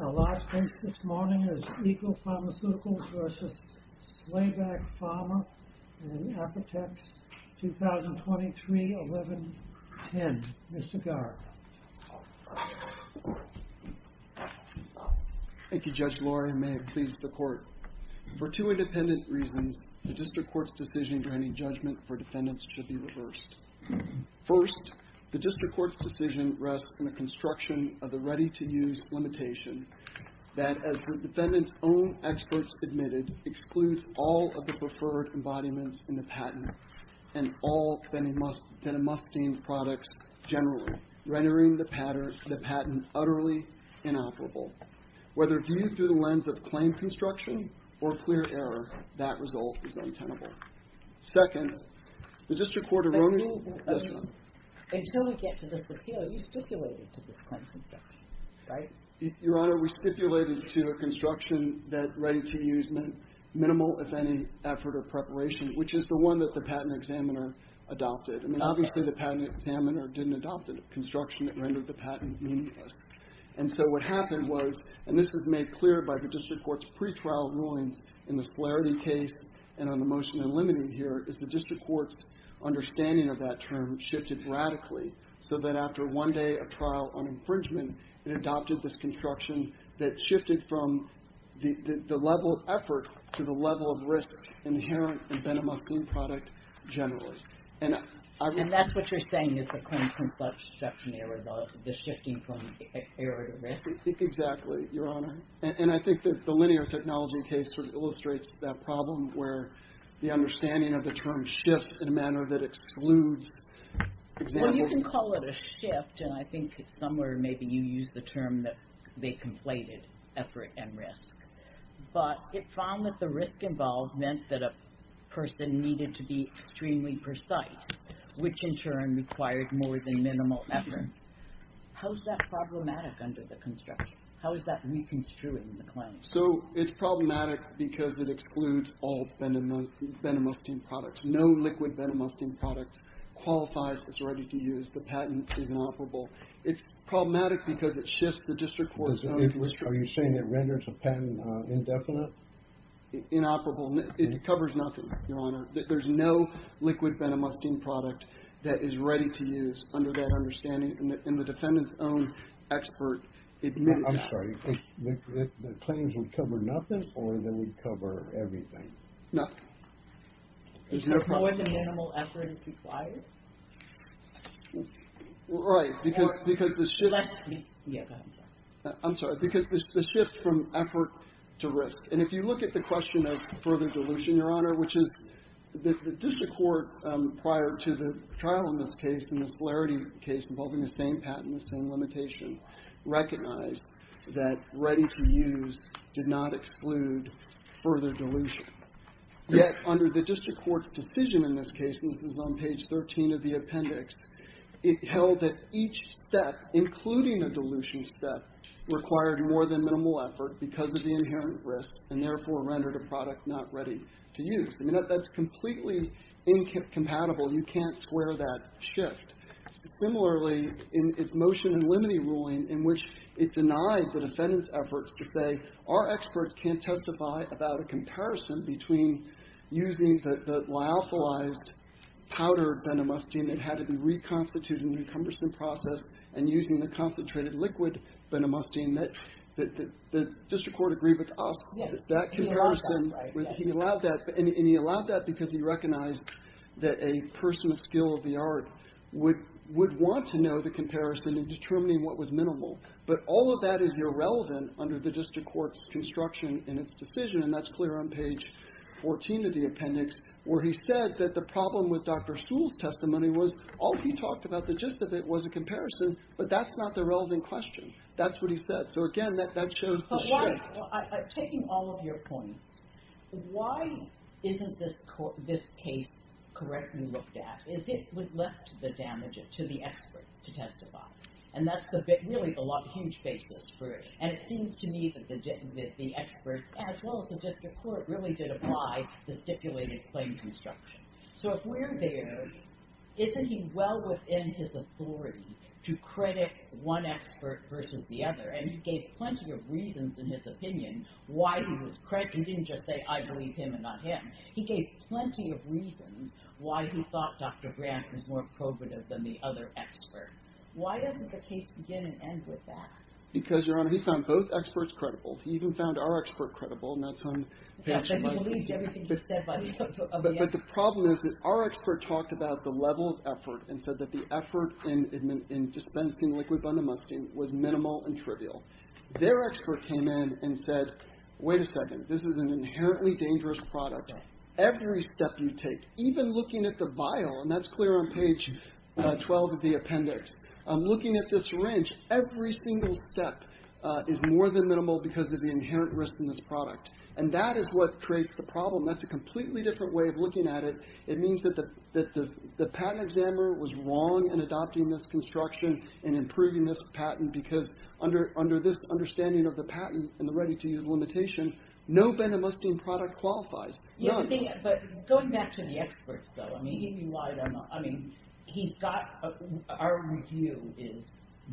Our last case this morning is ECO Pharmaceuticals v. Slayback Pharma and Apotex, 2023-11-10. Mr. Garrett. Thank you, Judge Laurie. May it please the Court. For two independent reasons, the District Court's decision granting judgment for defendants should be reversed. First, the District Court's decision rests in the construction of the ready-to-use limitation that, as the defendant's own experts admitted, excludes all of the preferred embodiments in the patent and all that a must gain products generally, rendering the patent utterly inoperable. Whether viewed through the lens of claim construction or clear error, that result is untenable. Second, the District Court erroneously Until we get to this appeal, you stipulated to this claim construction, right? Your Honor, we stipulated to a construction that ready-to-use meant minimal, if any, effort or preparation, which is the one that the patent examiner adopted. I mean, obviously, the patent examiner didn't adopt a construction that rendered the patent meaningless. And so what happened was, and this was made clear by the District Court's pretrial rulings in the Flaherty case and on the motion in limine here, is the District Court's understanding of that term shifted radically, so that after one day of trial on infringement, it adopted this construction that shifted from the level of effort to the level of risk inherent in a must-gain product generally. And that's what you're saying is the claim construction error, the shifting from error to risk. Exactly, Your Honor. And I think that the linear technology case illustrates that problem where the understanding of the term shifts in a manner that excludes examples. Well, you can call it a shift, and I think somewhere maybe you used the term that they conflated effort and risk. But it found that the risk involved meant that a person needed to be extremely precise, which in turn required more than minimal effort. How is that problematic under the construction? How is that reconstruing the claim? So it's problematic because it excludes all venomous team products. No liquid venomous team product qualifies as ready-to-use. The patent is inoperable. It's problematic because it shifts the District Court's own discretion. Are you saying it renders a patent indefinite? Inoperable. It covers nothing, Your Honor. There's no liquid venomous team product that is ready-to-use under that understanding, and the defendant's own expert admitted that. I'm sorry. The claims would cover nothing, or they would cover everything? Nothing. Is there a problem? Is there more than minimal effort required? Right. I'm sorry. Because the shift from effort to risk. And if you look at the question of further dilution, Your Honor, which is the District Court prior to the trial in this case, in the Solarity case involving the same patent and the same limitation, recognized that ready-to-use did not exclude further dilution. Yet under the District Court's decision in this case, and this is on page 13 of the statute, each step, including a dilution step, required more than minimal effort because of the inherent risks, and therefore rendered a product not ready to use. I mean, that's completely incompatible. You can't square that shift. Similarly, in its motion in limine ruling in which it denied the defendant's efforts to say our experts can't testify about a comparison between using the lyophilized powdered Benamustine that had to be reconstituted in a cumbersome process and using the concentrated liquid Benamustine that the District Court agreed with us. Yes. That comparison. He allowed that, right. He allowed that. And he allowed that because he recognized that a person of skill of the art would want to know the comparison in determining what was minimal. But all of that is irrelevant under the District Court's construction in its decision, and that's clear on page 14 of the appendix, where he said that the problem with Dr. Sewell's testimony was all he talked about, the gist of it, was a comparison, but that's not the relevant question. That's what he said. So, again, that shows the shift. But taking all of your points, why isn't this case correctly looked at? It was left to the experts to testify, and that's really a huge basis for it. And it seems to me that the experts, as well as the District Court, really did apply the stipulated claim construction. So if we're there, isn't he well within his authority to credit one expert versus the other? And he gave plenty of reasons in his opinion why he was – he didn't just say, I believe him and not him. He gave plenty of reasons why he thought Dr. Grant was more probative than the other expert. Why doesn't the case begin and end with that? Because, Your Honor, he found both experts credible. He even found our expert credible, and that's when they actually violated it. But the problem is that our expert talked about the level of effort and said that the effort in dispensing liquid bundle musting was minimal and trivial. Their expert came in and said, wait a second, this is an inherently dangerous product. Every step you take, even looking at the vial, and that's clear on page 12 of the appendix. Looking at this wrench, every single step is more than minimal because of the inherent risk in this product. And that is what creates the problem. That's a completely different way of looking at it. It means that the patent examiner was wrong in adopting this construction and improving this patent because under this understanding of the patent and the ready-to-use limitation, no bundle musting product qualifies. But going back to the experts, though, our review is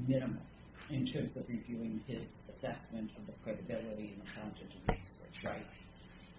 minimal in terms of reviewing his assessment of the credibility and the quantity of research.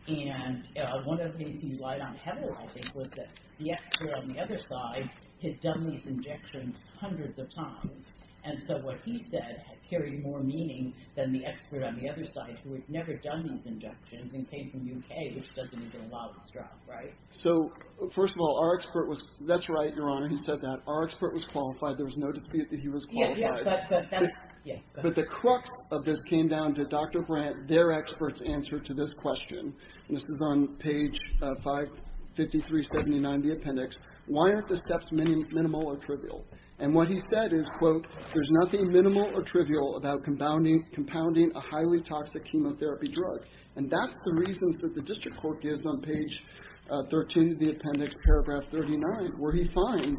And one of the things he lied on heavily, I think, was that the expert on the other side had done these injections hundreds of times, and so what he said carried more meaning than the expert on the other side, who had never done these injections and came from the U.K., which doesn't even allow this drug, right? So first of all, our expert was – that's right, Your Honor, he said that. Our expert was qualified. There was no dispute that he was qualified. Yeah, yeah, but that's – yeah. But the crux of this came down to Dr. Brandt, their expert's answer to this question. And this was on page 55379 of the appendix. Why aren't the steps minimal or trivial? And what he said is, quote, there's nothing minimal or trivial about compounding a highly toxic chemotherapy drug. And that's the reasons that the district court gives on page 13 of the appendix, paragraph 39, where he finds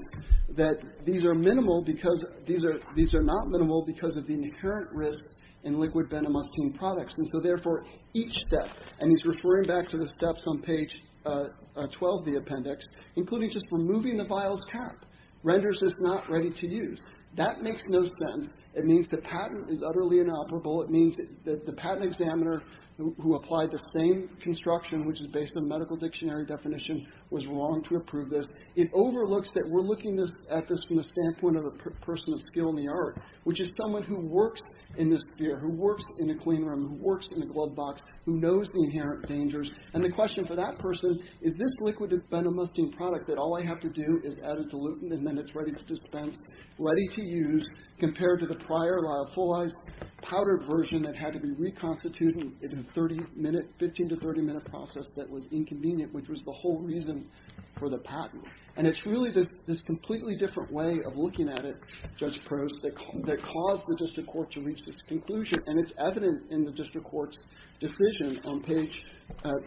that these are minimal because – these are – these are not minimal because of the inherent risk in liquid benamustine products. And so, therefore, each step – and he's referring back to the steps on page 12 of the appendix, including just removing the vial's cap renders this not ready to use. That makes no sense. It means the patent is utterly inoperable. It means that the patent examiner who applied the same construction, which is based on medical dictionary definition, was wrong to approve this. It overlooks that we're looking at this from the standpoint of a person of skill in the art, which is someone who works in this sphere, who works in a clean room, who works in a glove box, who knows the inherent dangers. And the question for that person, is this liquid benamustine product that all I have to do is add a dilutant and then it's ready to dispense, ready to use, compared to the prior liophilized powdered version that had to be reconstituted in a 30-minute – 15 to 30-minute process that was inconvenient, which was the whole reason for the patent. And it's really this completely different way of looking at it, Judge Prost, that caused the district court to reach this conclusion. And it's evident in the district court's decision on page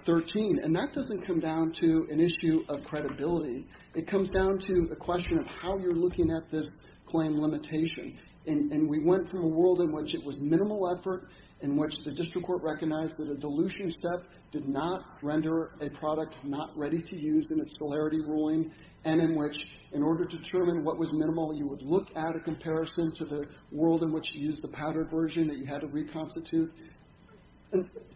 13. And that doesn't come down to an issue of credibility. It comes down to a question of how you're looking at this claim limitation and we went from a world in which it was minimal effort, in which the district court recognized that a dilution step did not render a product not ready to use in its scolarity ruling, and in which, in order to determine what was minimal, you would look at a comparison to the world in which you used the powdered version that you had to reconstitute.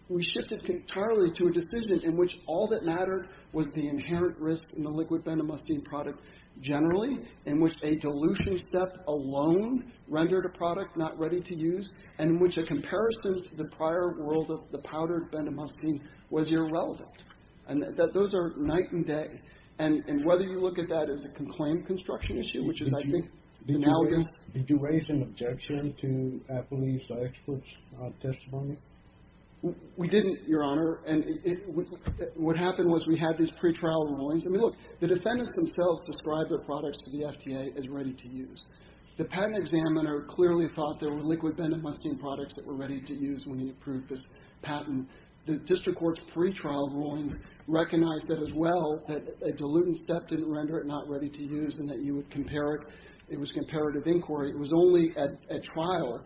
We shifted entirely to a decision in which all that mattered was the inherent risk in the liquid benamustine product generally, in which a dilution step alone rendered a product not ready to use, and in which a comparison to the prior world of the powdered benamustine was irrelevant. And those are night and day. And whether you look at that as a conclaimed construction issue, which is, I think, analogous. Did you raise an objection to Applebee's experts' testimony? We didn't, Your Honor. And what happened was we had these pretrial rulings. I mean, look. The defendants themselves described their products to the FTA as ready to use. The patent examiner clearly thought there were liquid benamustine products that were ready to use when he approved this patent. The district court's pretrial rulings recognized that as well, that a dilution step didn't render it not ready to use and that you would compare it. It was comparative inquiry. It was only at trial,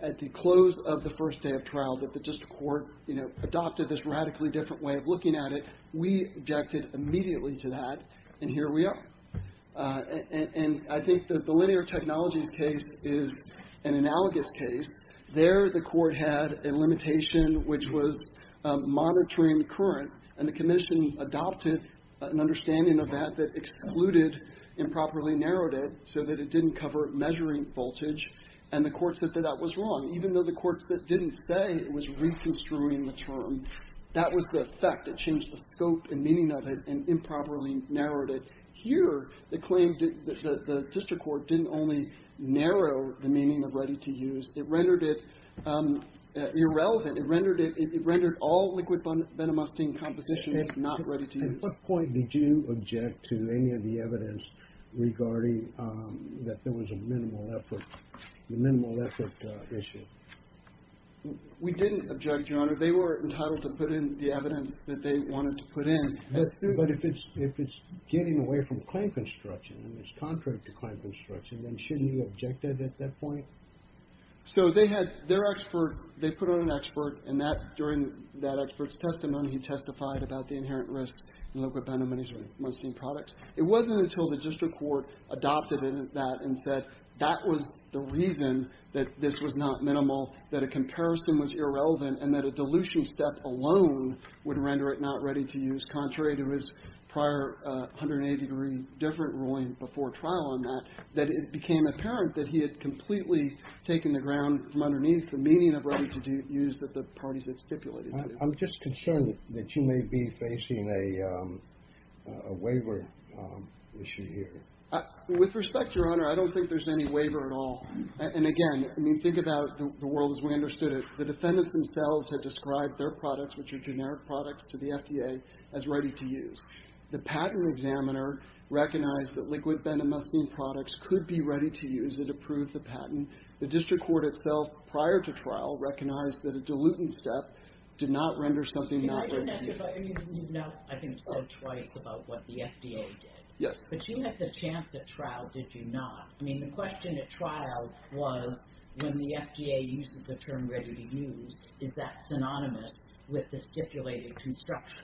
at the close of the first day of trial, that the district court, you know, adopted this radically different way of looking at it. We objected immediately to that, and here we are. And I think that the linear technologies case is an analogous case. There the court had a limitation which was monitoring the current, and the commission adopted an understanding of that that excluded improperly narrowed it so that it didn't cover measuring voltage, and the court said that that was wrong. Even though the court didn't say it was reconstruing the term, that was the effect. It changed the scope and meaning of it and improperly narrowed it. Here, the claim that the district court didn't only narrow the meaning of ready to use. It rendered it irrelevant. It rendered all liquid benamustine compositions not ready to use. At what point did you object to any of the evidence regarding that there was a minimal effort, the minimal effort issue? We didn't object, Your Honor. They were entitled to put in the evidence that they wanted to put in. But if it's getting away from claim construction, and it's contrary to claim construction, then shouldn't you object to it at that point? So they had their expert, they put on an expert, and during that expert's testimony he testified about the inherent risks in liquid benamustine products. It wasn't until the district court adopted that and said that was the reason that this was not minimal, that a comparison was irrelevant, and that a dilution step alone would render it not ready to use, contrary to his prior 183 different ruling before trial on that, that it became apparent that he had completely taken the ground from underneath the meaning of ready to use that the parties had stipulated. I'm just concerned that you may be facing a waiver issue here. With respect, Your Honor, I don't think there's any waiver at all. And again, I mean, think about the world as we understood it. The defendants themselves had described their products, which are generic products, to the FDA as ready to use. The patent examiner recognized that liquid benamustine products could be ready to use. It approved the patent. The district court itself, prior to trial, recognized that a dilution step did not render something not ready to use. You've now, I think, said twice about what the FDA did. Yes. But you had the chance at trial, did you not? I mean, the question at trial was when the FDA uses the term ready to use, is that synonymous with the stipulated construction?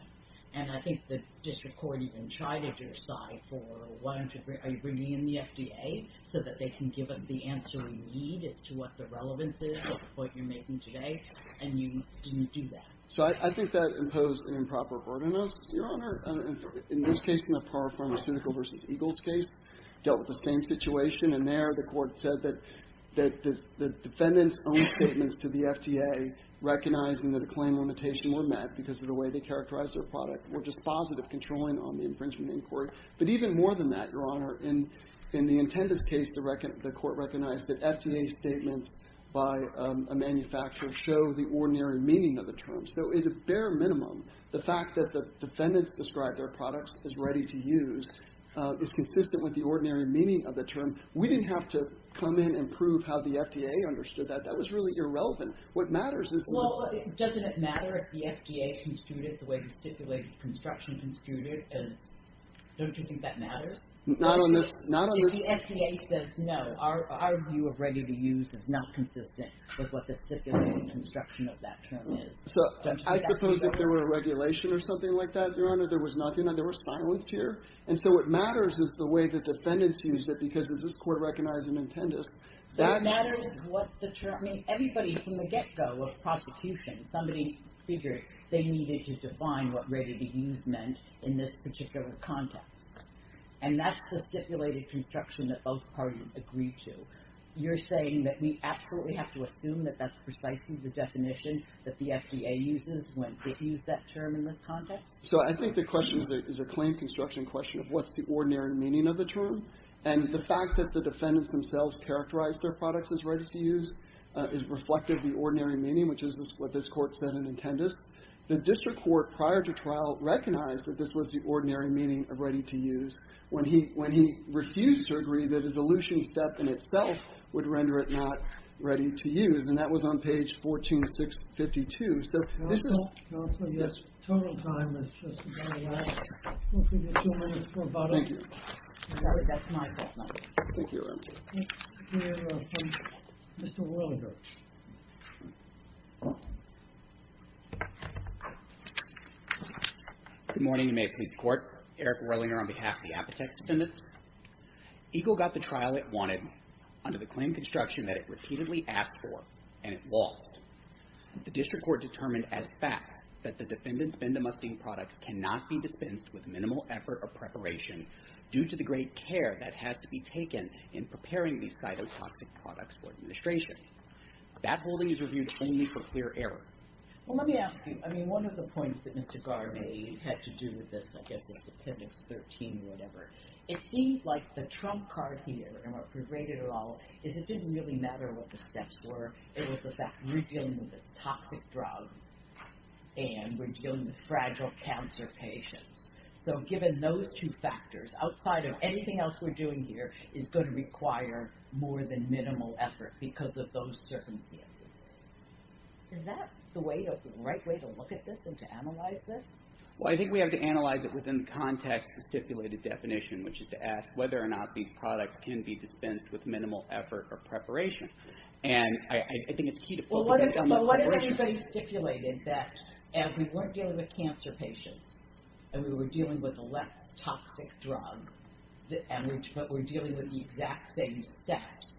And I think the district court even chided your side for wanting to bring in the FDA so that they can give us the answer we need as to what the relevance is of what you're making today. And you didn't do that. So I think that imposed an improper burden on us, Your Honor. Your Honor, in this case, in the Parra Pharmaceutical v. Eagles case, dealt with the same situation. And there the Court said that the defendants' own statements to the FDA, recognizing that a claim limitation were met because of the way they characterized their product, were just positive controlling on the infringement inquiry. But even more than that, Your Honor, in the intendant's case, the Court recognized that FDA statements by a manufacturer show the ordinary meaning of the terms. So at a bare minimum, the fact that the defendants described their products as ready to use is consistent with the ordinary meaning of the term. We didn't have to come in and prove how the FDA understood that. That was really irrelevant. What matters is the... Well, doesn't it matter if the FDA construed it the way the stipulated construction construed it? Don't you think that matters? Not on this... If the FDA says, no, our view of ready to use is not consistent with what the stipulated construction of that term is. So I suppose if there were a regulation or something like that, Your Honor, there was nothing. There was silence here. And so what matters is the way the defendants used it because if this Court recognized an intendant, that... What matters is what the term... I mean, everybody from the get-go of prosecution, somebody figured they needed to define what ready to use meant in this particular context. And that's the stipulated construction that both parties agreed to. You're saying that we absolutely have to assume that that's precisely the definition that the FDA uses when it used that term in this context? So I think the question is a claim construction question of what's the ordinary meaning of the term. And the fact that the defendants themselves characterized their products as ready to use is reflective of the ordinary meaning, which is what this Court said in intendus. The district court prior to trial recognized that this was the ordinary meaning of ready to use when he refused to agree that a dilution step in itself would render it not ready to use. And that was on page 14652. So this is... Counsel? Counsel? Yes. Total time has just run out. We'll give you two minutes for rebuttal. Thank you. That's my fault. Thank you, Your Honor. Mr. Roelliger. You may have pleased the Court. Eric Roelliger on behalf of the Apotex Defendants. EGLE got the trial it wanted under the claim construction that it repeatedly asked for, and it lost. The district court determined as fact that the defendants' Venda Mustang products cannot be dispensed with minimal effort or preparation due to the great care that has to be taken in preparing these cytotoxic products for administration. That holding is reviewed plainly for clear error. Well, let me ask you. I mean, one of the points that Mr. Garvey had to do with this, I guess, is Appendix 13 or whatever. It seemed like the trump card here and what pervaded it all is it didn't really matter what the steps were. It was the fact that we're dealing with a toxic drug and we're dealing with fragile cancer patients. So given those two factors, outside of anything else we're doing here, it's going to require more than minimal effort because of those circumstances. Is that the right way to look at this and to analyze this? Well, I think we have to analyze it within the context of the stipulated definition, which is to ask whether or not these products can be dispensed with and I think it's key to put that in the equation. Well, what if anybody stipulated that as we weren't dealing with cancer patients and we were dealing with a less toxic drug and we're dealing with the exact same steps,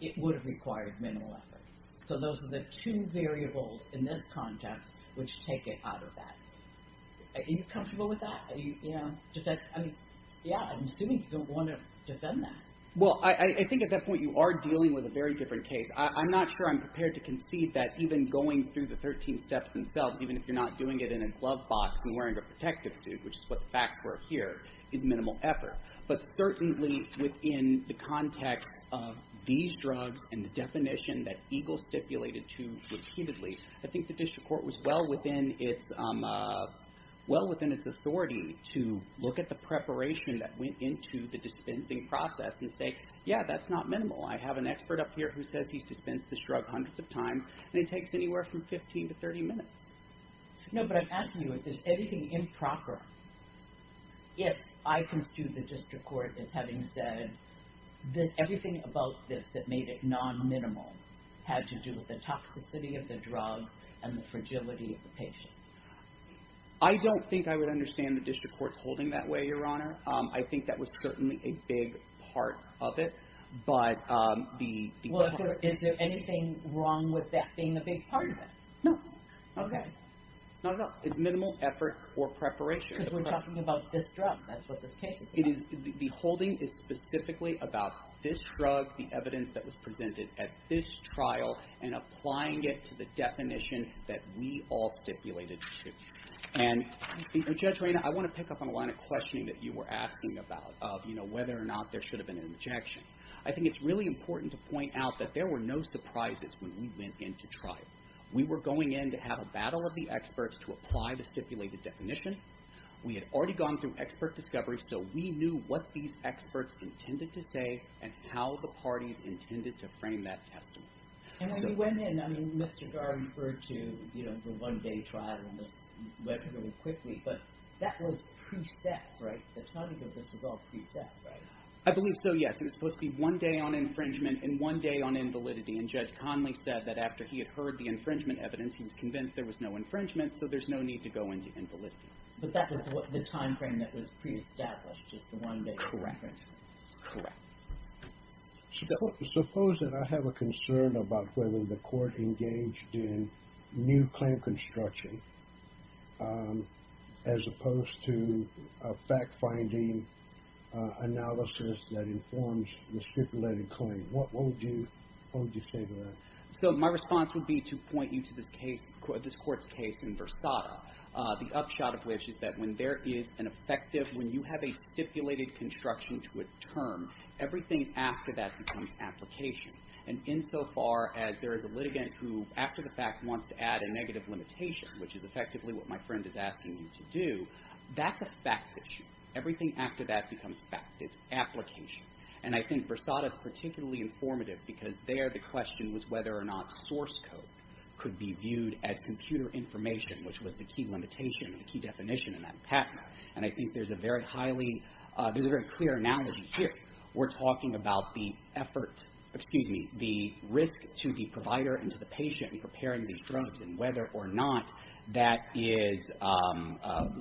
it would have required minimal effort. So those are the two variables in this context which take it out of that. Are you comfortable with that? I mean, yeah, I'm assuming you don't want to defend that. Well, I think at that point you are dealing with a very different case. I'm not sure I'm prepared to concede that even going through the 13 steps themselves, even if you're not doing it in a glove box and wearing a protective suit, which is what the facts were here, is minimal effort. But certainly within the context of these drugs and the definition that EGLE stipulated to repeatedly, I think the district court was well within its authority to look at the preparation that went into the dispensing process and say, yeah, that's not minimal. I have an expert up here who says he's dispensed this drug hundreds of times and it takes anywhere from 15 to 30 minutes. No, but I'm asking you, is there anything improper if I construe the district court as having said that everything about this that made it non-minimal had to do with the toxicity of the drug and the fragility of the patient? I don't think I would understand the district court's holding that way, Your Honor. I think that was certainly a big part of it. Is there anything wrong with that being a big part of it? No. Okay. Not at all. It's minimal effort or preparation. Because we're talking about this drug. That's what this case is about. The holding is specifically about this drug, the evidence that was presented at this trial and applying it to the definition that we all stipulated to. And Judge Rayna, I want to pick up on a line of questioning that you were asking about of whether or not there should have been an injection. I think it's really important to point out that there were no surprises when we went into trial. We were going in to have a battle of the experts to apply the stipulated definition. We had already gone through expert discovery, so we knew what these experts intended to say and how the parties intended to frame that testimony. And when you went in, I mean, Mr. Garr referred to the one-day trial and this went really quickly, but that was pre-set, right? The timing of this was all pre-set, right? I believe so, yes. It was supposed to be one day on infringement and one day on invalidity. And Judge Conley said that after he had heard the infringement evidence, he was convinced there was no infringement, so there's no need to go into invalidity. But that was the timeframe that was pre-established, just the one-day trial. Correct. Correct. Suppose that I have a concern about whether the court engaged in new claim construction as opposed to fact-finding analysis that informs the stipulated claim. What would you say to that? So my response would be to point you to this court's case in Versada, the upshot of which is that when there is an effective, when you have a stipulated construction to a term, everything after that becomes application. And insofar as there is a litigant who, after the fact, wants to add a negative limitation, which is effectively what my friend is asking you to do, that's a fact issue. Everything after that becomes fact. It's application. And I think Versada is particularly informative because there the question was whether or not source code could be viewed as computer information, which was the key limitation, the key definition in that patent. And I think there's a very highly, there's a very clear analogy here. We're talking about the effort, excuse me, the risk to the provider and to the patient in preparing these drugs and whether or not that is,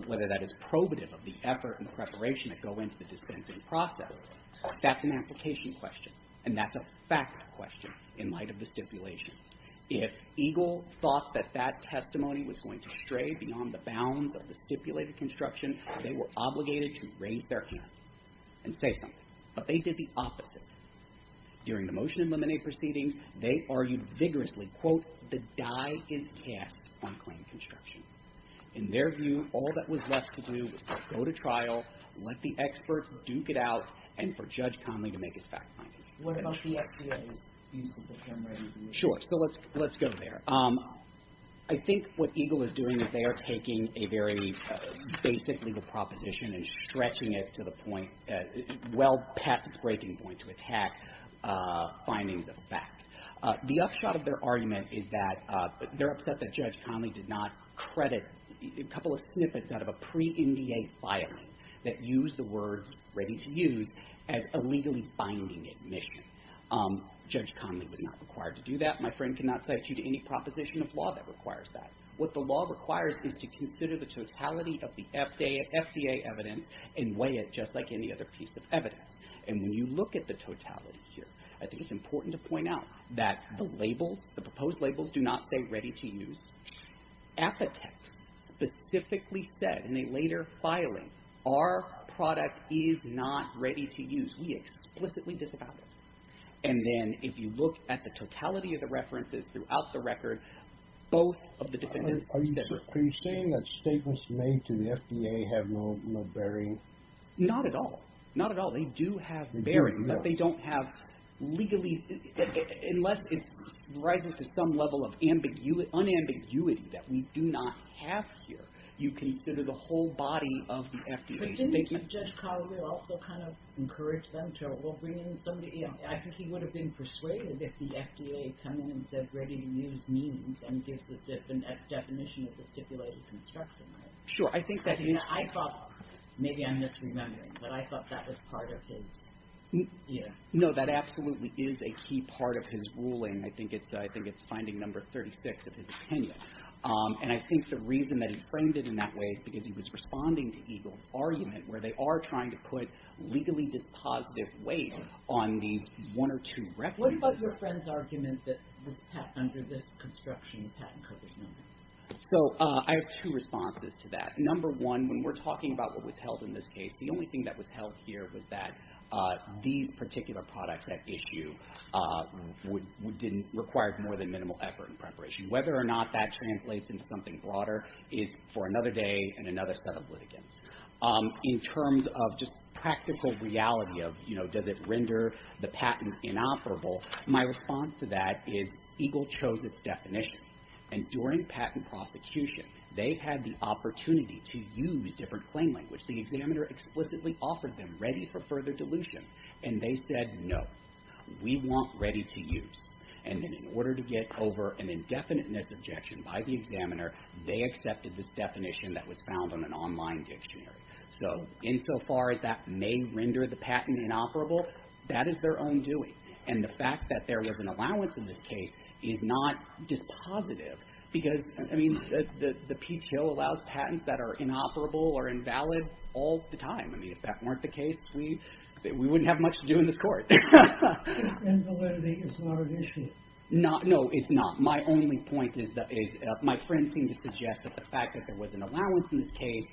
whether that is probative of the effort and the preparation that go into the dispensing process. That's an application question. And that's a fact question in light of the stipulation. If EGLE thought that that testimony was going to stray beyond the bounds of the stipulated construction, they were obligated to raise their hand and say something. But they did the opposite. During the motion in Lemonade Proceedings, they argued vigorously, quote, the die is cast on claim construction. In their view, all that was left to do was to go to trial, let the experts duke it out, and for Judge Conley to make his fact finding. What about the FDA's use of the term, right? Sure. So let's go there. I think what EGLE is doing is they are taking a very basic legal proposition and stretching it to the point, well past its breaking point to attack findings of fact. The upshot of their argument is that they're upset that Judge Conley did not credit a couple of snippets out of a pre-NDA filing that used the words, ready to use, as illegally finding admission. Judge Conley was not required to do that. My friend cannot cite you to any proposition of law that requires that. What the law requires is to consider the totality of the FDA evidence and weigh it just like any other piece of evidence. And when you look at the totality here, I think it's important to point out that the labels, the proposed labels, do not say ready to use. Apotex specifically said in a later filing, our product is not ready to use. We explicitly disavow it. And then if you look at the totality of the references throughout the record, both of the defendants said ready to use. Are you saying that statements made to the FDA have no bearing? Not at all. Not at all. They do have bearing, but they don't have legally, unless it rises to some level of unambiguity that we do not have here, you consider the whole body of the FDA statements. But Judge Collier also kind of encouraged them to, well, bring in somebody else. I think he would have been persuaded if the FDA coming in said ready to use means and gives the definition of the stipulated construction, right? Sure. I think that is. I thought, maybe I'm misremembering, but I thought that was part of his, you know. No, that absolutely is a key part of his ruling. I think it's finding number 36 of his opinion. And I think the reason that he framed it in that way is because he was responding to EGLE's argument where they are trying to put legally dispositive weight on these one or two references. What about your friend's argument that this patent, under this construction patent covers nothing? So, I have two responses to that. Number one, when we're talking about what was held in this case, the only thing that was held here was that these particular products at issue required more than minimal effort and preparation. Whether or not that translates into something broader is for another day and another set of litigants. In terms of just practical reality of, you know, does it render the patent inoperable, my response to that is EGLE chose its definition. And during patent prosecution, they had the opportunity to use different claim language. The examiner explicitly offered them ready for further dilution. And they said, no, we want ready to use. And then in order to get over an indefiniteness objection by the examiner, they accepted this definition that was found on an online dictionary. So, insofar as that may render the patent inoperable, that is their own doing. And the fact that there was an allowance in this case is not dispositive because, I mean, the Peach Hill allows patents that are inoperable or invalid all the time. I mean, if that weren't the case, we wouldn't have much to do in this Court. Invalidity is not an issue. No, it's not. My only point is that my friends seem to suggest that the fact that there was an allowance in this case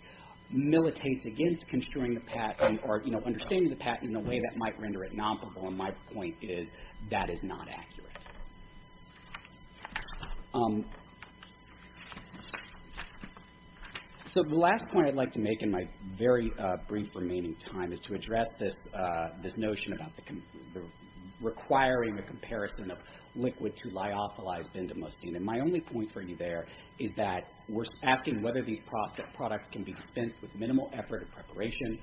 militates against construing the patent or, you know, understanding the patent in a way that might render it inoperable. And my point is that is not accurate. So the last point I'd like to make in my very brief remaining time is to address this notion about requiring the comparison of liquid to lyophilized bendamustine. And my only point for you there is that we're asking whether these products can be dispensed with minimal effort or preparation.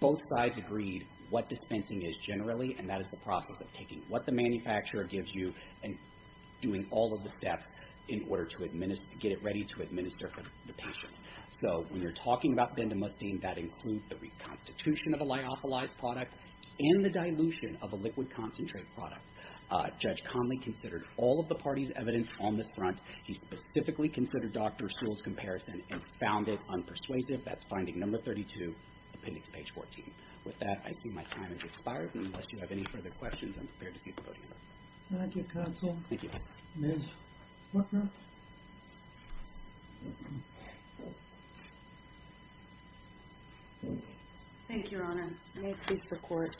Both sides agreed what dispensing is generally, and that is the process of taking what the manufacturer gives you and doing all of the steps in order to get it ready to administer for the patient. So when you're talking about bendamustine, that includes the reconstitution of the lyophilized product and the dilution of a liquid concentrate product. Judge Conley considered all of the parties' evidence on this front. He specifically considered Dr. Sewell's comparison and found it unpersuasive. That's finding number 32, appendix page 14. With that, I see my time has expired. And unless you have any further questions, I'm prepared to cease the podium. Thank you, counsel. Thank you. Ms. Buckner. Thank you, Your Honor. May it please the Court.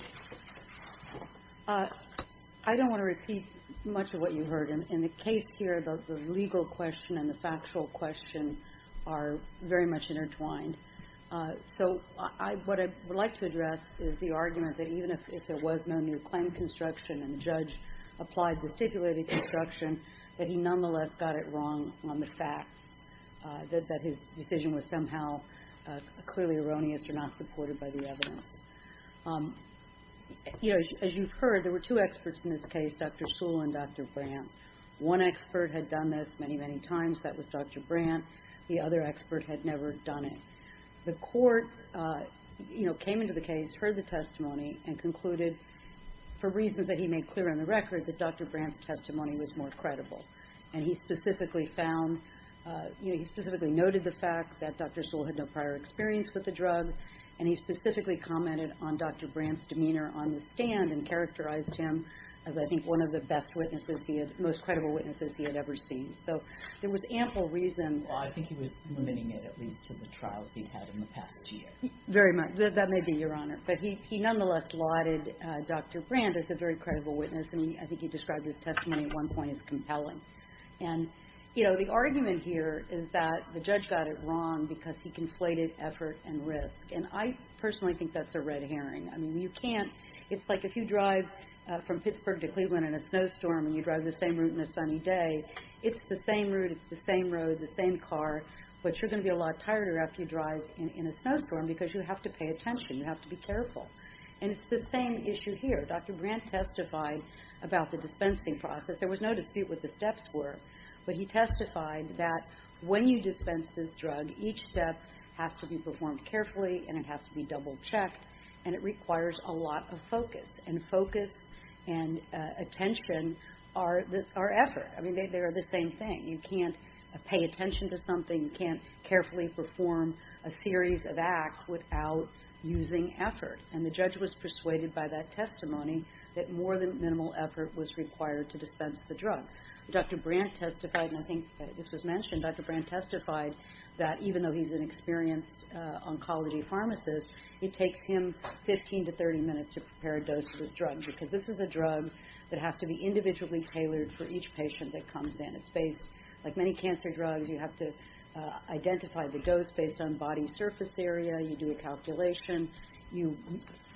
I don't want to repeat much of what you heard. In the case here, the legal question and the factual question are very much intertwined. So what I would like to address is the argument that even if there was no new claim construction and the judge applied the stipulated construction, that he nonetheless got it wrong on the fact that his decision was somehow clearly erroneous or not supported by the evidence. You know, as you've heard, there were two experts in this case, Dr. Sewell and Dr. Brandt. One expert had done this many, many times. That was Dr. Brandt. The other expert had never done it. The Court, you know, came into the case, heard the testimony, and concluded, for reasons that he made clear on the record, that Dr. Brandt's testimony was more compelling than the evidence. And he specifically found, you know, he specifically noted the fact that Dr. Sewell had no prior experience with the drug. And he specifically commented on Dr. Brandt's demeanor on the stand and characterized him as, I think, one of the best witnesses he had, most credible witnesses he had ever seen. So there was ample reason. Well, I think he was limiting it at least to the trials he'd had in the past year. Very much. That may be, Your Honor. But he nonetheless lauded Dr. Brandt as a very credible witness. And I think he described his testimony at one point as compelling. And, you know, the argument here is that the judge got it wrong because he conflated effort and risk. And I personally think that's a red herring. I mean, you can't – it's like if you drive from Pittsburgh to Cleveland in a snowstorm and you drive the same route in a sunny day, it's the same route, it's the same road, the same car, but you're going to be a lot tired after you drive in a snowstorm because you have to pay attention. You have to be careful. And it's the same issue here. Dr. Brandt testified about the dispensing process. There was no dispute what the steps were, but he testified that when you dispense this drug, each step has to be performed carefully and it has to be double-checked and it requires a lot of focus. And focus and attention are effort. I mean, they are the same thing. You can't pay attention to something. You can't carefully perform a series of acts without using effort. And the judge was persuaded by that testimony that more than minimal effort was required to dispense the drug. Dr. Brandt testified, and I think this was mentioned, Dr. Brandt testified that even though he's an experienced oncology pharmacist, it takes him 15 to 30 minutes to prepare a dose of this drug because this is a drug that has to be individually tailored for each patient that comes in. It's based – like many cancer drugs, you have to identify the dose based on body surface area. You do a calculation. You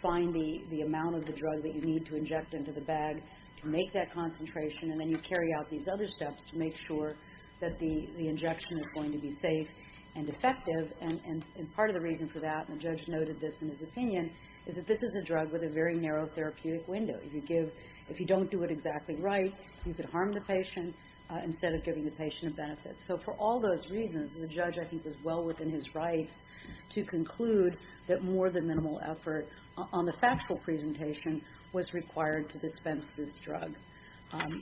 find the amount of the drug that you need to inject into the bag to make that concentration, and then you carry out these other steps to make sure that the injection is going to be safe and effective. And part of the reason for that, and the judge noted this in his opinion, is that this is a drug with a very narrow therapeutic window. If you don't do it exactly right, you could harm the patient instead of giving the patient a benefit. So for all those reasons, the judge, I think, was well within his rights to conclude that more than minimal effort on the factual presentation was required to dispense this drug.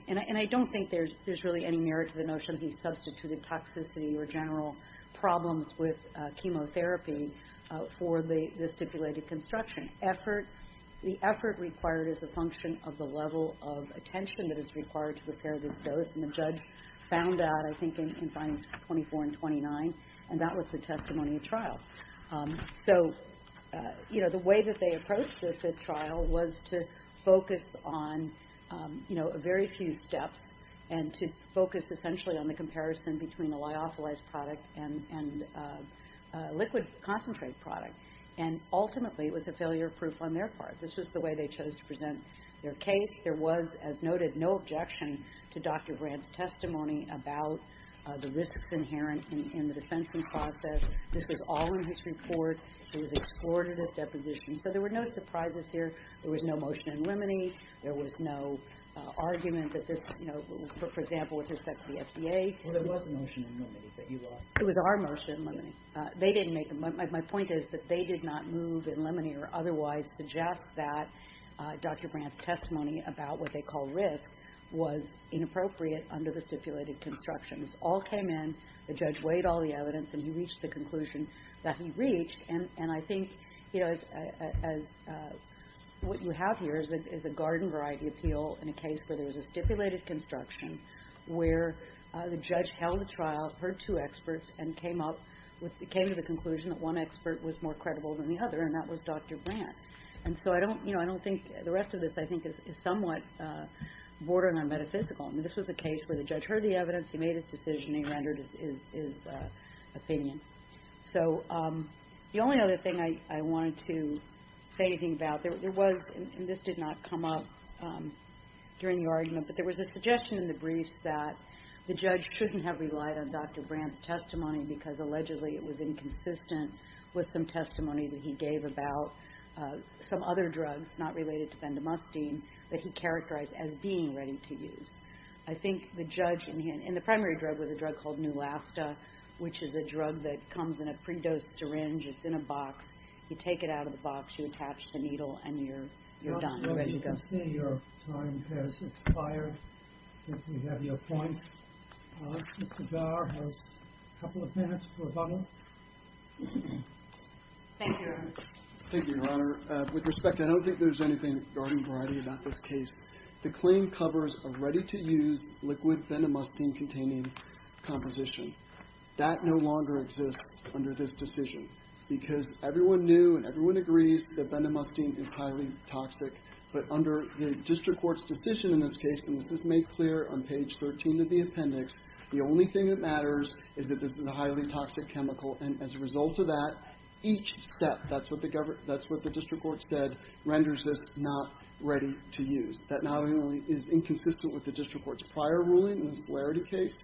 And I don't think there's really any merit to the notion he substituted toxicity or general problems with chemotherapy for the stipulated construction. The effort required is a function of the level of attention that is required to prepare this dose, and the judge found that, I think, in findings 24 and 29, and that was the testimony at trial. So, you know, the way that they approached this at trial was to focus on, you know, very few steps and to focus essentially on the comparison between a lyophilized product and a liquid concentrate product, and ultimately it was a failure proof on their part. This was the way they chose to present their case. There was, as noted, no objection to Dr. Brand's testimony about the risks inherent in the dispensing process. This was all in his report. It was exported as depositions. So there were no surprises here. There was no motion in limine. There was no argument that this, you know, for example, with respect to the FDA. Well, there was a motion in limine that you lost. It was our motion in limine. They didn't make them. My point is that they did not move in limine or otherwise suggest that Dr. Brand's testimony about what they call risks was inappropriate under the stipulated construction. This all came in. The judge weighed all the evidence, and he reached the conclusion that he reached. And I think, you know, what you have here is a garden variety appeal in a case where there was a stipulated construction where the judge held the trial, heard two experts, and came to the conclusion that one expert was more credible than the other, and that was Dr. Brand. And so I don't, you know, I don't think the rest of this, I think, is somewhat bordering on metaphysical. I mean, this was a case where the judge heard the evidence. He made his decision. He rendered his opinion. So the only other thing I wanted to say anything about, there was, and this did not come up during the argument, but there was a suggestion in the briefs that the judge shouldn't have relied on Dr. Brand's testimony because allegedly it was inconsistent with some testimony that he gave about some other drugs, not related to bendamustine, that he characterized as being ready to use. I think the judge in the primary drug was a drug called Neulasta, which is a drug that comes in a pre-dosed syringe. It's in a box. You take it out of the box. You attach the needle, and you're done. You're ready to go. I see your time has expired. I think we have your point. Mr. Garr has a couple of minutes for a bundle. Thank you. Thank you, Your Honor. With respect, I don't think there's anything garden variety about this case. The claim covers a ready-to-use liquid bendamustine-containing composition. That no longer exists under this decision because everyone knew and everyone agrees that bendamustine is highly toxic, but under the district court's decision in this case, and this is made clear on page 13 of the appendix, the only thing that matters is that this is a highly toxic chemical, and as a result of that, each step, that's what the district court said, renders this not ready to use. That not only is inconsistent with the district court's prior ruling in the celerity case,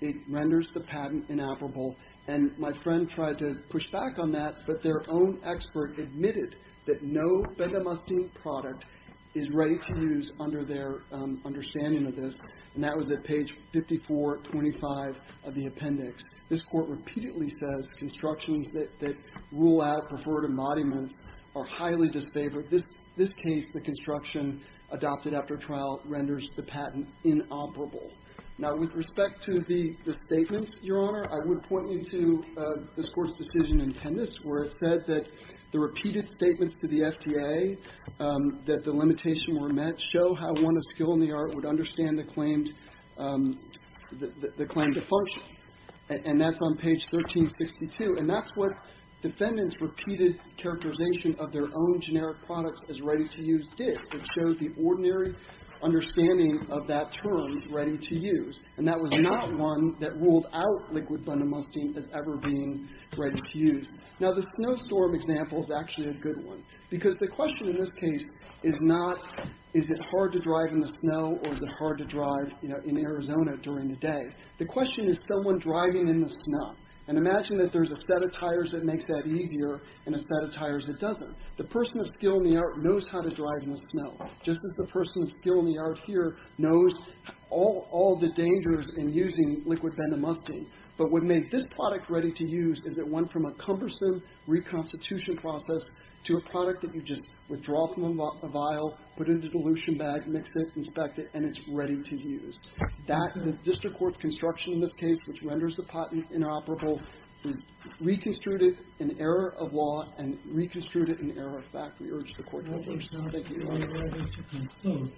it renders the patent inappropriate, and my friend tried to push back on that, but their own expert admitted that no bendamustine product is ready to use under their understanding of this, and that was at page 5425 of the appendix. This Court repeatedly says constructions that rule out preferred embodiments are highly disfavored. This case, the construction adopted after trial renders the patent inoperable. Now, with respect to the statements, Your Honor, I would point you to this Court's decision in Tennis where it said that the repeated statements to the FDA that the limitations were met show how one of skill in the art would understand the claim to function, and that's on page 1362, and that's what defendants' repeated characterization of their own generic products as ready to use did. It showed the ordinary understanding of that term, ready to use, and that was not one that ruled out liquid bendamustine as ever being ready to use. Now, the snowstorm example is actually a good one, because the question in this case is not is it hard to drive in the snow or is it hard to drive, you know, in Arizona during the day. The question is someone driving in the snow, and imagine that there's a set of tires that makes that easier and a set of tires that doesn't. The person of skill in the art knows how to drive in the snow. Just as the person of skill in the art here knows all the dangers in using liquid bendamustine. But what made this product ready to use is it went from a cumbersome reconstitution process to a product that you just withdraw from a vial, put it in a dilution bag, mix it, inspect it, and it's ready to use. That and the district court's construction in this case, which renders the patent inoperable, is reconstituted in error of law and reconstituted in error of fact. We urge the court to approve. Thank you. We are adjourned.